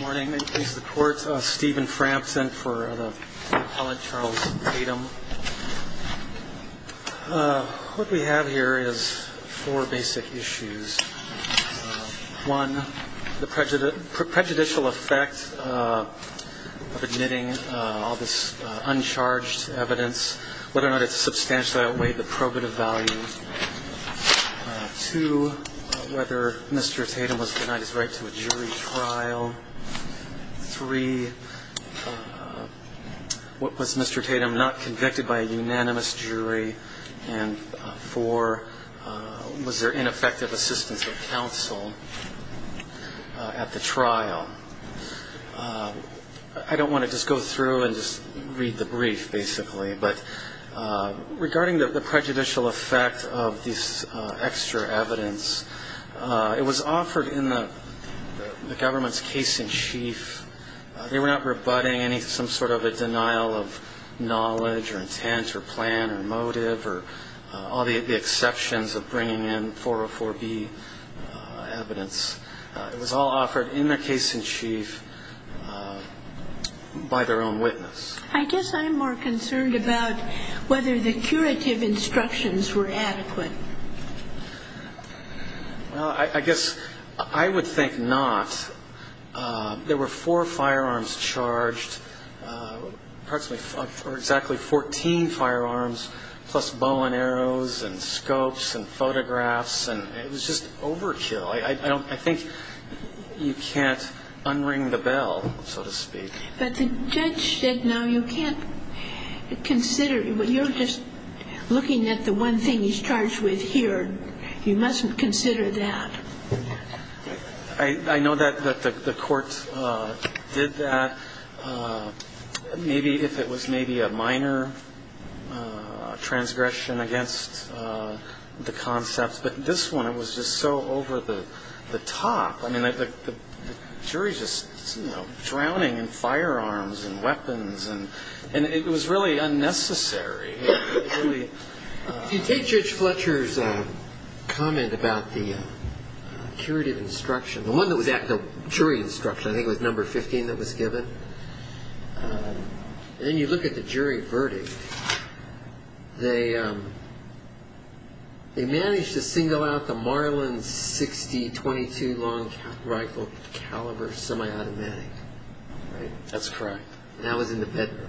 Morning. This is the Court. Stephen Frampton for the appellate Charles Tatom. What we have here is four basic issues. One, the prejudicial effect of admitting all this uncharged evidence, whether or not it substantially outweighed the probative value. Two, whether Mr. Tatom was denied his right to a jury trial. Three, was Mr. Tatom not convicted by a unanimous jury. And four, was there ineffective assistance of counsel at the trial. I don't want to just go through and just read the brief, basically. But regarding the prejudicial effect of this extra evidence, it was offered in the government's case-in-chief. They were not rebutting any some sort of a denial of knowledge or intent or plan or motive or all the exceptions of bringing in 404B evidence. It was all offered in the case-in-chief by their own witness. I guess I'm more concerned about whether the curative instructions were adequate. Well, I guess I would think not. There were four firearms charged, approximately, or exactly 14 firearms, plus bow and arrows and scopes and photographs. And it was just overkill. I think you can't unring the bell, so to speak. But the judge said, no, you can't consider it. You're just looking at the one thing he's charged with here. You mustn't consider that. I know that the court did that, maybe if it was maybe a minor transgression against the concept. But this one, it was just so over the top. I mean, the jury's just, you know, drowning in firearms and weapons. And it was really unnecessary. If you take Judge Fletcher's comment about the curative instruction, the one that was actually jury instruction, I think it was number 15 that was given, and then you look at the jury verdict, they managed to single out the Marlin 60 .22 long rifle caliber semi-automatic. That's correct. And that was in the bedroom.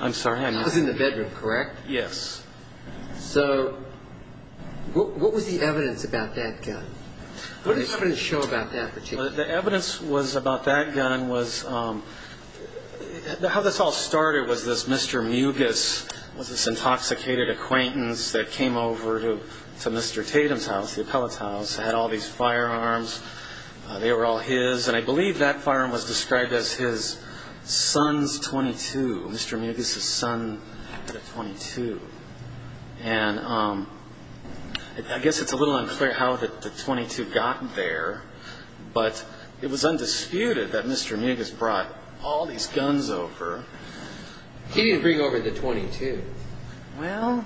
I'm sorry? That was in the bedroom, correct? Yes. So what was the evidence about that gun? What did it show about that particular gun? Well, the evidence was about that gun was how this all started was this Mr. Mugis was this intoxicated acquaintance that came over to Mr. Tatum's house, the appellate's house, had all these firearms. They were all his. And I believe that firearm was described as his son's .22, Mr. Mugis's son had a .22. And I guess it's a little unclear how the .22 got there, but it was undisputed that Mr. Mugis brought all these guns over. He didn't bring over the .22. Well,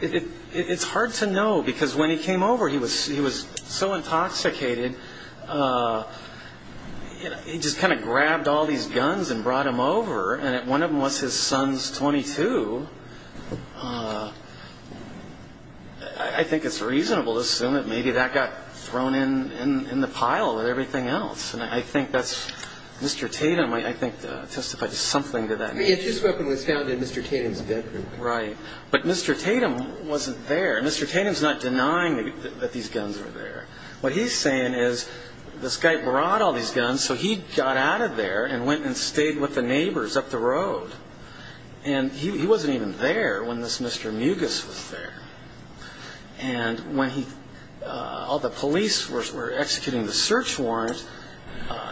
it's hard to know because when he came over, he was so intoxicated, he just kind of grabbed all these guns and brought them over. And if one of them was his son's .22, I think it's reasonable to assume that maybe that got thrown in the pile with everything else. And I think that's Mr. Tatum, I think, testified to something to that. I mean, his weapon was found in Mr. Tatum's bedroom. Right. But Mr. Tatum wasn't there. Mr. Tatum's not denying that these guns were there. What he's saying is this guy brought all these guns, so he got out of there and went and stayed with the neighbors up the road. And he wasn't even there when this Mr. Mugis was there. And when all the police were executing the search warrant,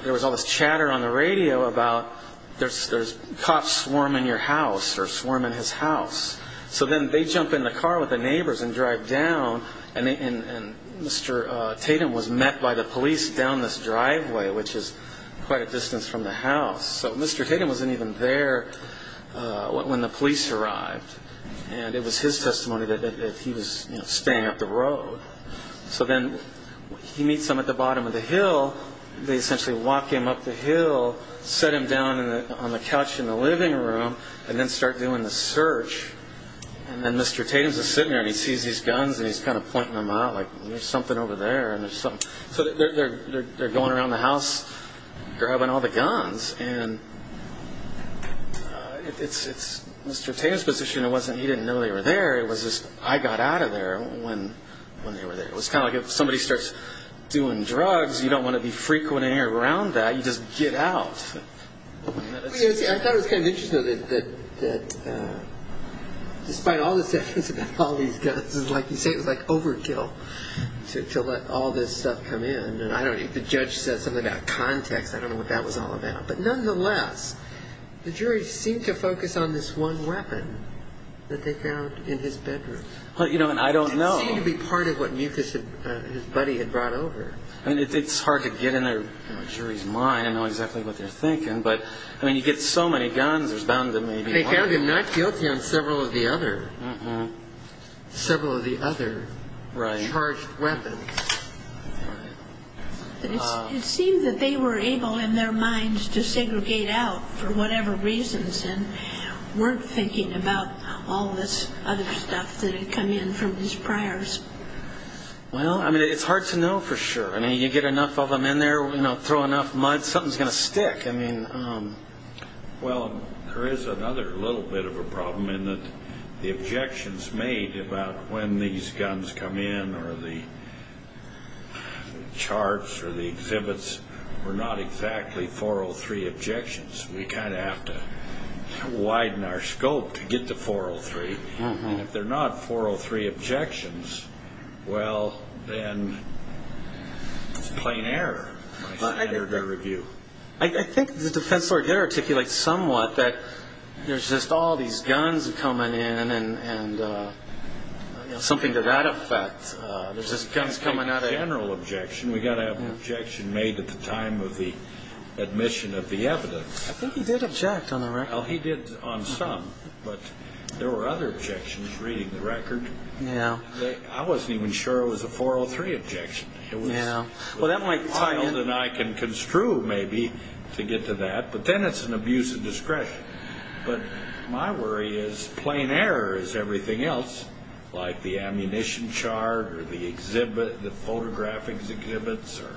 there was all this chatter on the radio about there's cops swarming your house or swarming his house. So then they jump in the car with the neighbors and drive down. And Mr. Tatum was met by the police down this driveway, which is quite a distance from the house. So Mr. Tatum wasn't even there when the police arrived. And it was his testimony that he was staying up the road. So then he meets them at the bottom of the hill. They essentially walk him up the hill, set him down on the couch in the living room, and then start doing the search. And then Mr. Tatum's just sitting there, and he sees these guns, and he's kind of pointing them out like, there's something over there, and there's something. So they're going around the house, grabbing all the guns. And it's Mr. Tatum's position. It wasn't he didn't know they were there. It was just I got out of there when they were there. It was kind of like if somebody starts doing drugs, you don't want to be frequenting around that. You just get out. I thought it was kind of interesting, though, that despite all the statements about all these guns, like you say, it was like overkill to let all this stuff come in. And I don't know. If the judge said something about context, I don't know what that was all about. But nonetheless, the jury seemed to focus on this one weapon that they found in his bedroom. I don't know. It seemed to be part of what Mucus, his buddy, had brought over. I mean, it's hard to get in a jury's mind and know exactly what they're thinking. But, I mean, you get so many guns, there's bound to be one. They found him not guilty on several of the other, several of the other charged weapons. It seemed that they were able in their minds to segregate out for whatever reasons and weren't thinking about all this other stuff that had come in from his priors. Well, I mean, it's hard to know for sure. I mean, you get enough of them in there, throw enough mud, something's going to stick. Well, there is another little bit of a problem in that the objections made about when these guns come in or the charts or the exhibits were not exactly 403 objections. We kind of have to widen our scope to get to 403. And if they're not 403 objections, well, then it's plain error by standard of review. I think the defense lawyer did articulate somewhat that there's just all these guns coming in and something to that effect. There's just guns coming out of it. It's not a general objection. We've got to have an objection made at the time of the admission of the evidence. I think he did object on the record. Well, he did on some, but there were other objections reading the record. I wasn't even sure it was a 403 objection. It was a little child and I can construe maybe to get to that, but then it's an abuse of discretion. But my worry is plain error is everything else, like the ammunition chart or the exhibit, the photographic exhibits or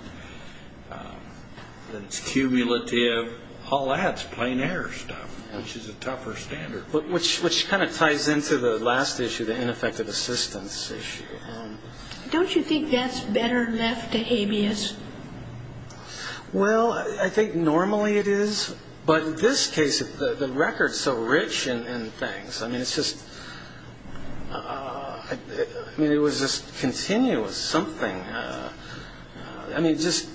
that it's cumulative, all that's plain error stuff, which is a tougher standard. Which kind of ties into the last issue, the ineffective assistance issue. Don't you think that's better left to habeas? Well, I think normally it is, but in this case, the record's so rich in things. I mean, it's just continuous something. I mean, just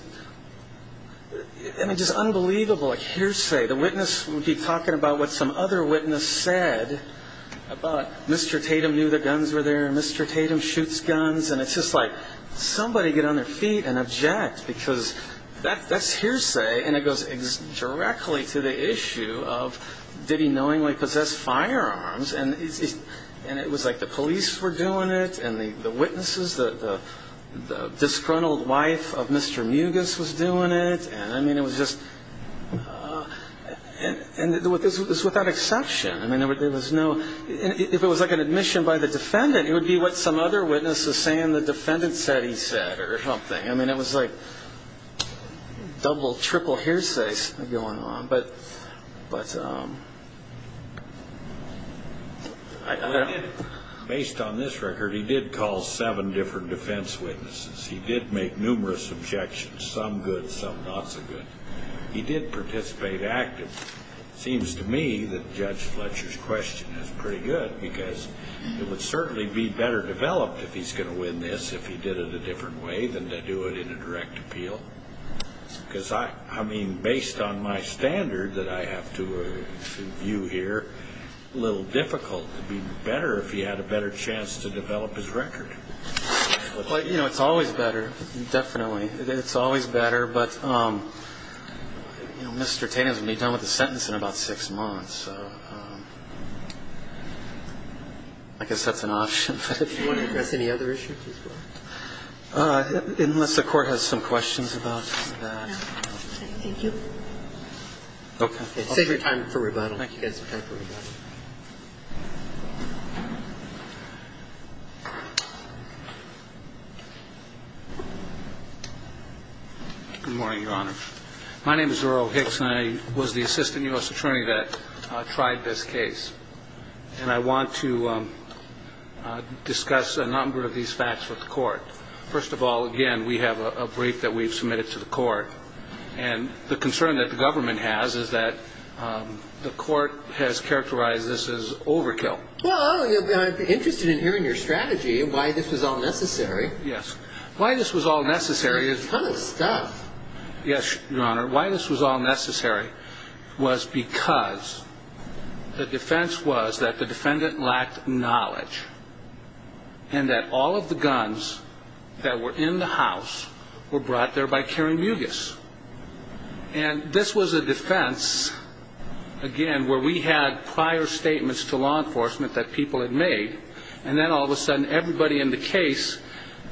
unbelievable. Like hearsay. The witness would be talking about what some other witness said. Mr. Tatum knew the guns were there. Mr. Tatum shoots guns. And it's just like somebody get on their feet and object because that's hearsay and it goes directly to the issue of did he knowingly possess firearms. And it was like the police were doing it and the witnesses, the disgruntled wife of Mr. Mugis was doing it. And, I mean, it was just – and it was without exception. I mean, there was no – if it was like an admission by the defendant, it would be what some other witness is saying the defendant said he said or something. I mean, it was like double, triple hearsay going on. But I don't know. Based on this record, he did call seven different defense witnesses. He did make numerous objections, some good, some not so good. He did participate actively. It seems to me that Judge Fletcher's question is pretty good because it would certainly be better developed if he's going to win this if he did it a different way than to do it in a direct appeal. Because, I mean, based on my standard that I have to view here, a little difficult. It would be better if he had a better chance to develop his record. Well, you know, it's always better, definitely. It's always better. But, you know, Mr. Tatum is going to be done with his sentence in about six months. So I guess that's an option. If you want to address any other issues, please go ahead. Unless the Court has some questions about that. No. Thank you. Okay. Save your time for rebuttal. Thank you. You guys have time for rebuttal. Good morning, Your Honor. My name is Earl Hicks, and I was the assistant U.S. attorney that tried this case. And I want to discuss a number of these facts with the Court. First of all, again, we have a brief that we've submitted to the Court. And the concern that the government has is that the Court has characterized this as overkill. Well, I'd be interested in hearing your strategy and why this was all necessary. Yes. Why this was all necessary is… There's a ton of stuff. Yes, Your Honor. Why this was all necessary was because the defense was that the defendant lacked knowledge and that all of the guns that were in the house were brought there by carrying mugis. And this was a defense, again, where we had prior statements to law enforcement that people had made, and then all of a sudden everybody in the case,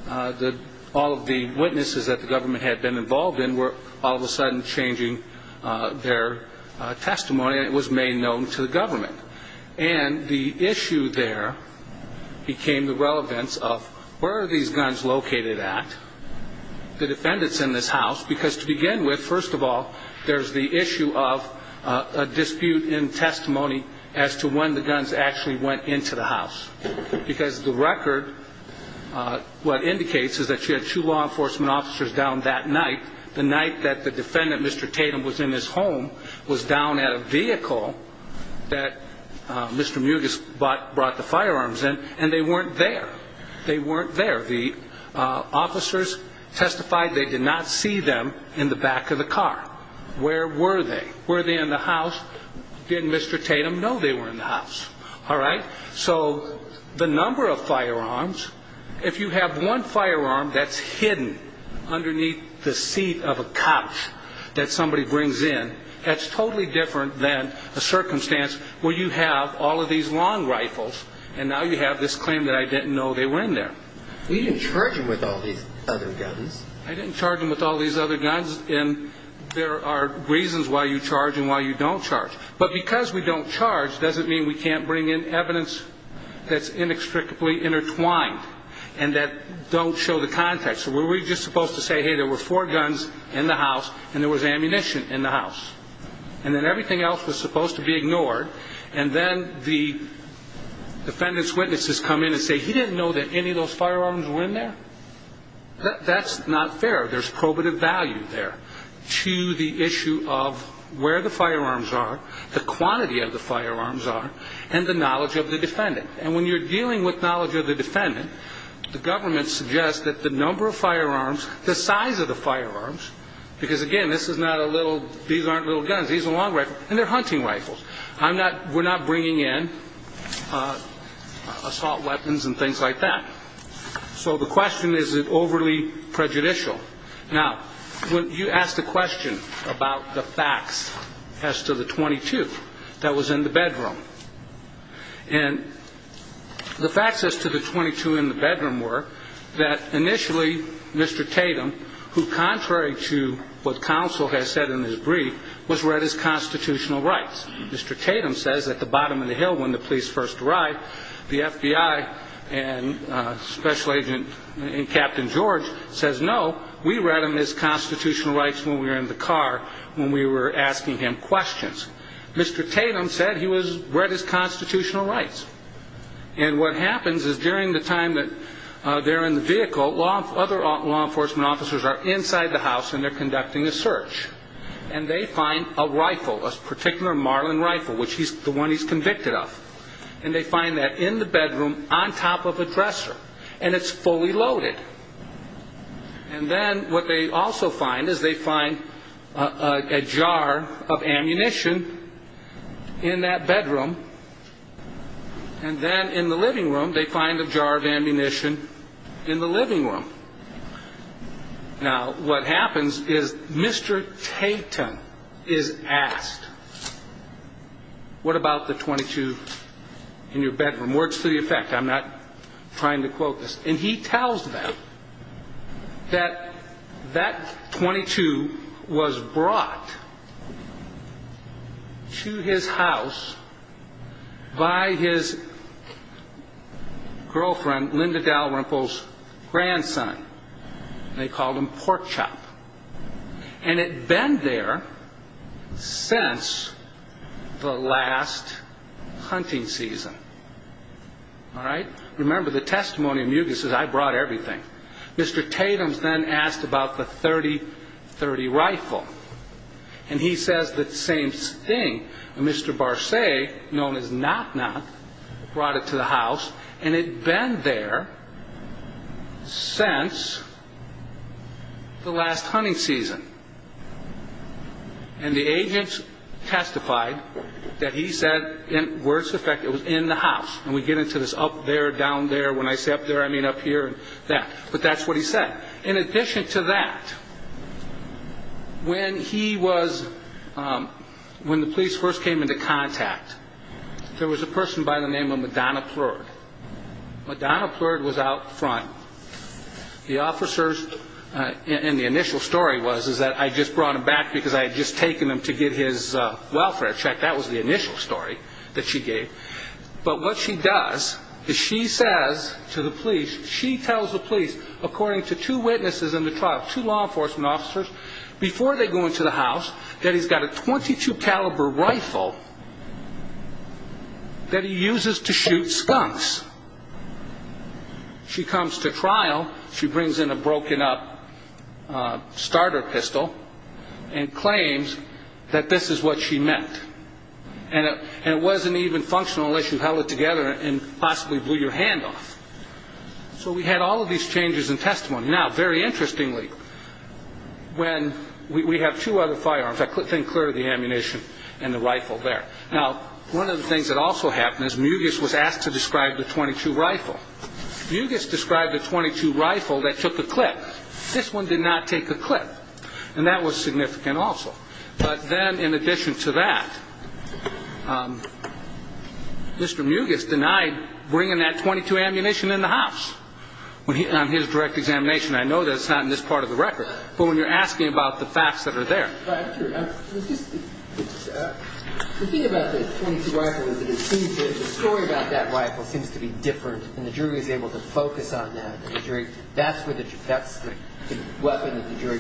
all of the witnesses that the government had been involved in, were all of a sudden changing their testimony, and it was made known to the government. And the issue there became the relevance of where are these guns located at, the defendants in this house. Because to begin with, first of all, there's the issue of a dispute in testimony as to when the guns actually went into the house. Because the record, what indicates is that you had two law enforcement officers down that night, the night that the defendant, Mr. Tatum, was in his home, was down at a vehicle that Mr. Mugis brought the firearms in, and they weren't there. They weren't there. The officers testified they did not see them in the back of the car. Where were they? Were they in the house? Didn't Mr. Tatum know they were in the house? All right? So the number of firearms, if you have one firearm that's hidden underneath the seat of a couch that somebody brings in, that's totally different than a circumstance where you have all of these long rifles, and now you have this claim that I didn't know they were in there. You didn't charge them with all these other guns. I didn't charge them with all these other guns, and there are reasons why you charge and why you don't charge. But because we don't charge doesn't mean we can't bring in evidence that's inextricably intertwined and that don't show the context. So were we just supposed to say, hey, there were four guns in the house and there was ammunition in the house, and then everything else was supposed to be ignored, and then the defendant's witnesses come in and say he didn't know that any of those firearms were in there? That's not fair. There's probative value there to the issue of where the firearms are, the quantity of the firearms are, and the knowledge of the defendant. And when you're dealing with knowledge of the defendant, the government suggests that the number of firearms, the size of the firearms, because, again, this is not a little – these aren't little guns. These are long rifles, and they're hunting rifles. We're not bringing in assault weapons and things like that. So the question is, is it overly prejudicial? Now, you asked a question about the facts as to the 22 that was in the bedroom. And the facts as to the 22 in the bedroom were that initially Mr. Tatum, who contrary to what counsel has said in his brief, was read his constitutional rights. Mr. Tatum says at the bottom of the hill when the police first arrived, the FBI and Special Agent and Captain George says, no, we read him his constitutional rights when we were in the car when we were asking him questions. Mr. Tatum said he was read his constitutional rights. And what happens is during the time that they're in the vehicle, other law enforcement officers are inside the house and they're conducting a search. And they find a rifle, a particular Marlin rifle, which is the one he's convicted of. And they find that in the bedroom on top of a dresser, and it's fully loaded. And then what they also find is they find a jar of ammunition in that bedroom, and then in the living room they find a jar of ammunition in the living room. Now, what happens is Mr. Tatum is asked, what about the 22 in your bedroom? Words to the effect. I'm not trying to quote this. And he tells them that that 22 was brought to his house by his girlfriend, Linda Dalrymple's grandson. They called him Porkchop. And it had been there since the last hunting season. All right? Remember, the testimony of Mugis is I brought everything. Mr. Tatum is then asked about the .30 rifle. And he says the same thing. Mr. Barsay, known as Knock-Knock, brought it to the house, and it had been there since the last hunting season. And the agent testified that he said, words to the effect, it was in the house. And we get into this up there, down there. When I say up there, I mean up here and that. But that's what he said. In addition to that, when the police first came into contact, there was a person by the name of Madonna Plerd. Madonna Plerd was out front. The officers, and the initial story was that I just brought him back because I had just taken him to get his welfare check. That was the initial story that she gave. But what she does is she says to the police, she tells the police, according to two witnesses in the trial, two law enforcement officers, before they go into the house, that he's got a .22 caliber rifle that he uses to shoot skunks. She comes to trial. She brings in a broken up starter pistol and claims that this is what she meant. And it wasn't even functional unless you held it together and possibly blew your hand off. So we had all of these changes in testimony. Now, very interestingly, when we have two other firearms, I think clear of the ammunition and the rifle there. Now, one of the things that also happened is Mugis was asked to describe the .22 rifle. Mugis described the .22 rifle that took a clip. This one did not take a clip, and that was significant also. But then in addition to that, Mr. Mugis denied bringing that .22 ammunition in the house on his direct examination. I know that's not in this part of the record, but when you're asking about the facts that are there. The thing about the .22 rifle is that it seems that the story about that rifle seems to be different, and the jury is able to focus on that. That's the weapon that the jury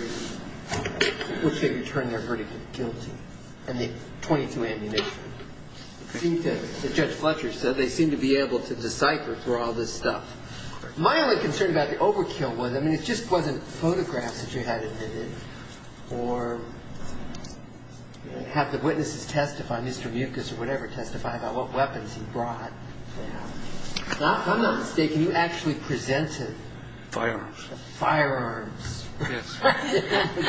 wishes to turn their verdict guilty, and the .22 ammunition. It seems that, as Judge Fletcher said, they seem to be able to decipher through all this stuff. My only concern about the overkill was, I mean, it just wasn't photographs that you had in it. Or have the witnesses testify, Mr. Mugis or whatever, testify about what weapons he brought. If I'm not mistaken, you actually presented firearms. Firearms. Yes. I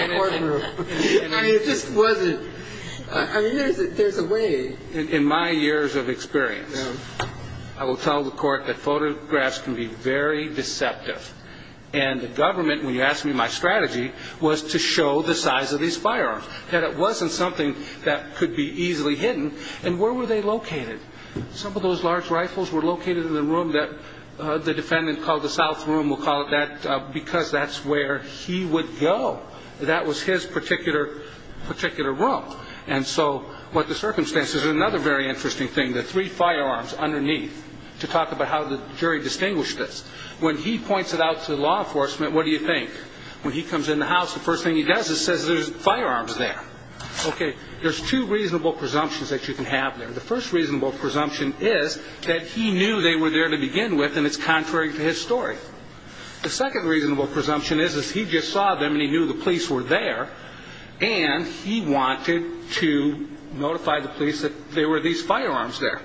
mean, it just wasn't. I mean, there's a way. In my years of experience, I will tell the court that photographs can be very deceptive, and the government, when you asked me my strategy, was to show the size of these firearms, that it wasn't something that could be easily hidden. And where were they located? Some of those large rifles were located in the room that the defendant called the south room. We'll call it that because that's where he would go. That was his particular room. And so what the circumstances. Another very interesting thing, the three firearms underneath, to talk about how the jury distinguished this. When he points it out to law enforcement, what do you think? When he comes in the house, the first thing he does is says there's firearms there. Okay, there's two reasonable presumptions that you can have there. The first reasonable presumption is that he knew they were there to begin with, and it's contrary to his story. The second reasonable presumption is he just saw them and he knew the police were there, and he wanted to notify the police that there were these firearms there.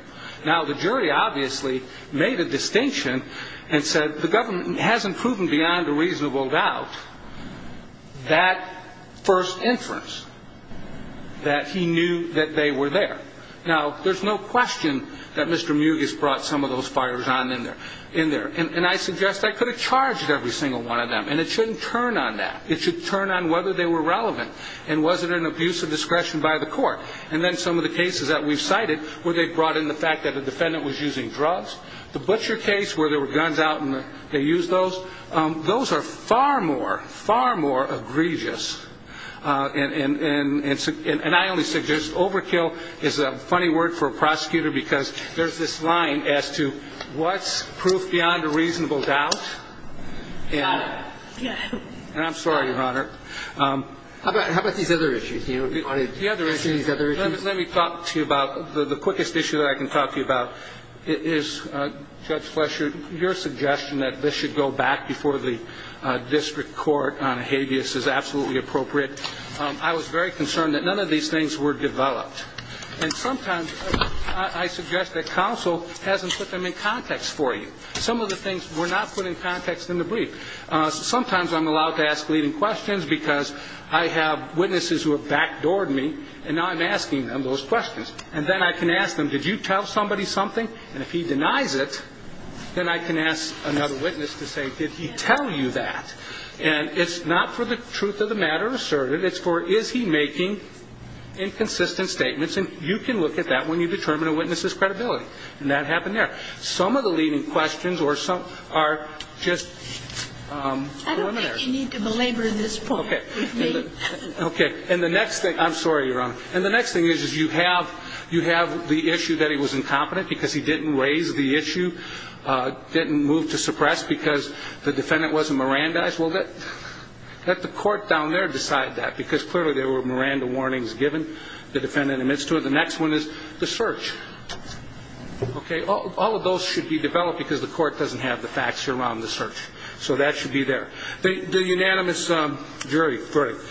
Now, the jury obviously made a distinction and said the government hasn't proven beyond a reasonable doubt that first inference, that he knew that they were there. Now, there's no question that Mr. Mugis brought some of those firearms in there. And I suggest I could have charged every single one of them, and it shouldn't turn on that. It should turn on whether they were relevant and was it an abuse of discretion by the court. And then some of the cases that we've cited where they brought in the fact that the defendant was using drugs. The butcher case where there were guns out and they used those, those are far more, far more egregious. And I only suggest overkill is a funny word for a prosecutor because there's this line as to what's proof beyond a reasonable doubt. The other issue, let me talk to you about the quickest issue that I can talk to you about is Judge Flesher, your suggestion that this should go back before the district court on habeas is absolutely appropriate. I was very concerned that none of these things were developed. And sometimes I suggest that counsel hasn't put them in context for you. Some of the things were not put in context in the brief. Sometimes I'm allowed to ask leading questions because I have witnesses who have backdoored me, and now I'm asking them those questions. And then I can ask them, did you tell somebody something? And if he denies it, then I can ask another witness to say, did he tell you that? And it's not for the truth of the matter asserted. It's for is he making inconsistent statements. And you can look at that when you determine a witness's credibility. And that happened there. Some of the leading questions are just preliminary. I don't think you need to belabor this point with me. Okay. And the next thing, I'm sorry, Your Honor. And the next thing is you have the issue that he was incompetent because he didn't raise the issue, didn't move to suppress because the defendant wasn't Mirandized. Well, let the court down there decide that because clearly there were Miranda warnings given. The defendant admits to it. The next one is the search. Okay. All of those should be developed because the court doesn't have the facts around the search. So that should be there. The unanimous jury verdict.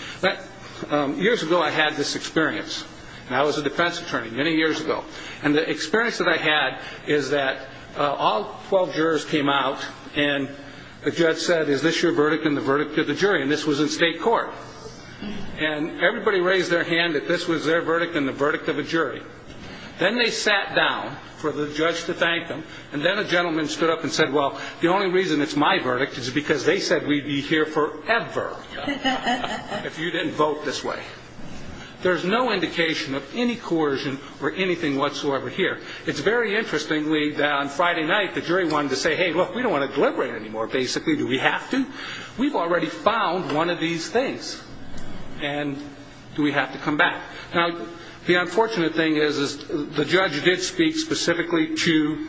Years ago I had this experience. And I was a defense attorney many years ago. And the experience that I had is that all 12 jurors came out and the judge said, is this your verdict and the verdict of the jury? And this was in state court. And everybody raised their hand that this was their verdict and the verdict of a jury. Then they sat down for the judge to thank them. And then a gentleman stood up and said, well, the only reason it's my verdict is because they said we'd be here forever if you didn't vote this way. There's no indication of any coercion or anything whatsoever here. It's very interesting that on Friday night the jury wanted to say, hey, look, we don't want to deliberate anymore basically. Do we have to? We've already found one of these things. And do we have to come back? Now, the unfortunate thing is the judge did speak specifically to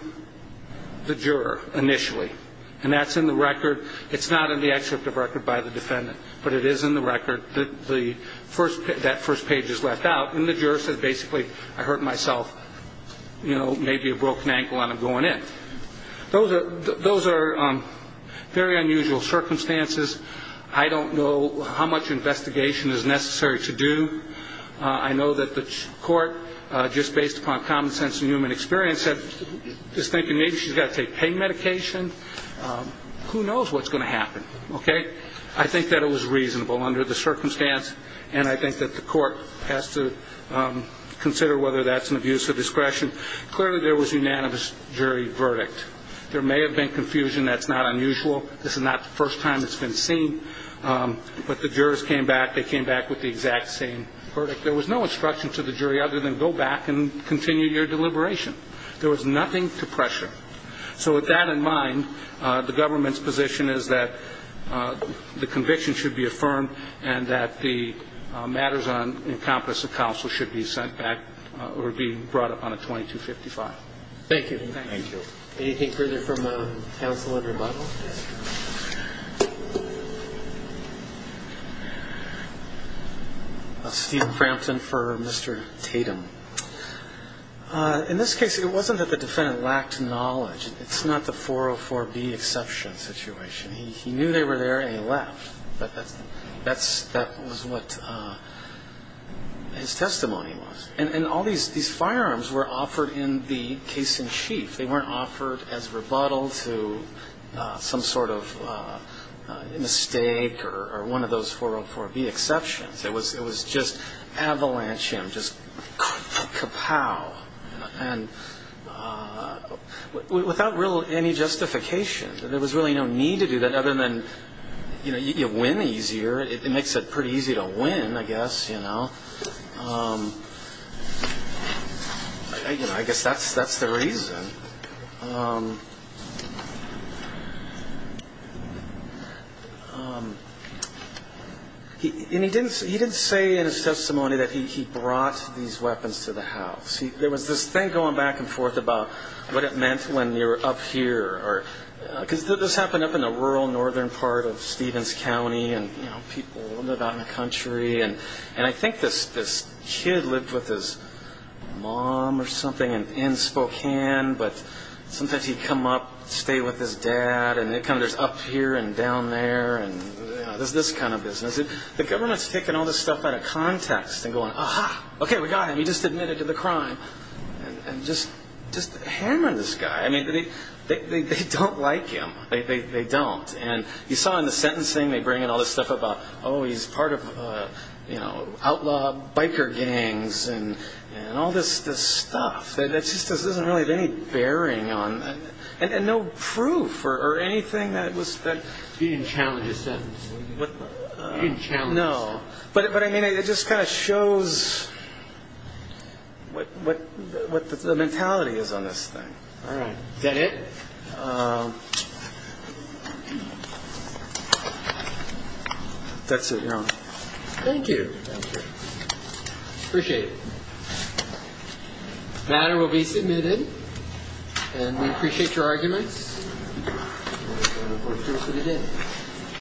the juror initially. And that's in the record. It's not in the excerpt of record by the defendant. But it is in the record that first page is left out. And the juror said basically I hurt myself, you know, maybe a broken ankle and I'm going in. Those are very unusual circumstances. I don't know how much investigation is necessary to do. I know that the court, just based upon common sense and human experience, is thinking maybe she's got to take pain medication. Who knows what's going to happen, okay? I think that it was reasonable under the circumstance. And I think that the court has to consider whether that's an abuse of discretion. Clearly there was unanimous jury verdict. There may have been confusion. That's not unusual. This is not the first time it's been seen. But the jurors came back. They came back with the exact same verdict. There was no instruction to the jury other than go back and continue your deliberation. There was nothing to pressure. So with that in mind, the government's position is that the conviction should be affirmed and that the matters on encompass of counsel should be sent back or be brought up on a 2255. Thank you. Thank you. Anything further from the counsel in rebuttal? Steven Crampton for Mr. Tatum. In this case, it wasn't that the defendant lacked knowledge. It's not the 404B exception situation. He knew they were there and he left. But that was what his testimony was. And all these firearms were offered in the case in chief. They weren't offered as rebuttal to some sort of mistake or one of those 404B exceptions. It was just avalanche, just kapow. And without any justification, there was really no need to do that other than you win easier. It makes it pretty easy to win, I guess. You know? I guess that's the reason. And he didn't say in his testimony that he brought these weapons to the house. There was this thing going back and forth about what it meant when you're up here. Because this happened up in the rural northern part of Stevens County. People live out in the country. And I think this kid lived with his mom or something in Spokane. But sometimes he'd come up, stay with his dad. And there's up here and down there. There's this kind of business. The government's taking all this stuff out of context and going, aha, okay, we got him. He just admitted to the crime. And just hammer this guy. I mean, they don't like him. They don't. And you saw in the sentencing they bring in all this stuff about, oh, he's part of outlaw biker gangs and all this stuff. It just doesn't really have any bearing on, and no proof or anything that was spent. He didn't challenge his sentencing. He didn't challenge it. No. But, I mean, it just kind of shows what the mentality is on this thing. All right. Is that it? That's it, Your Honor. Thank you. Thank you. Appreciate it. The matter will be submitted. And we appreciate your arguments.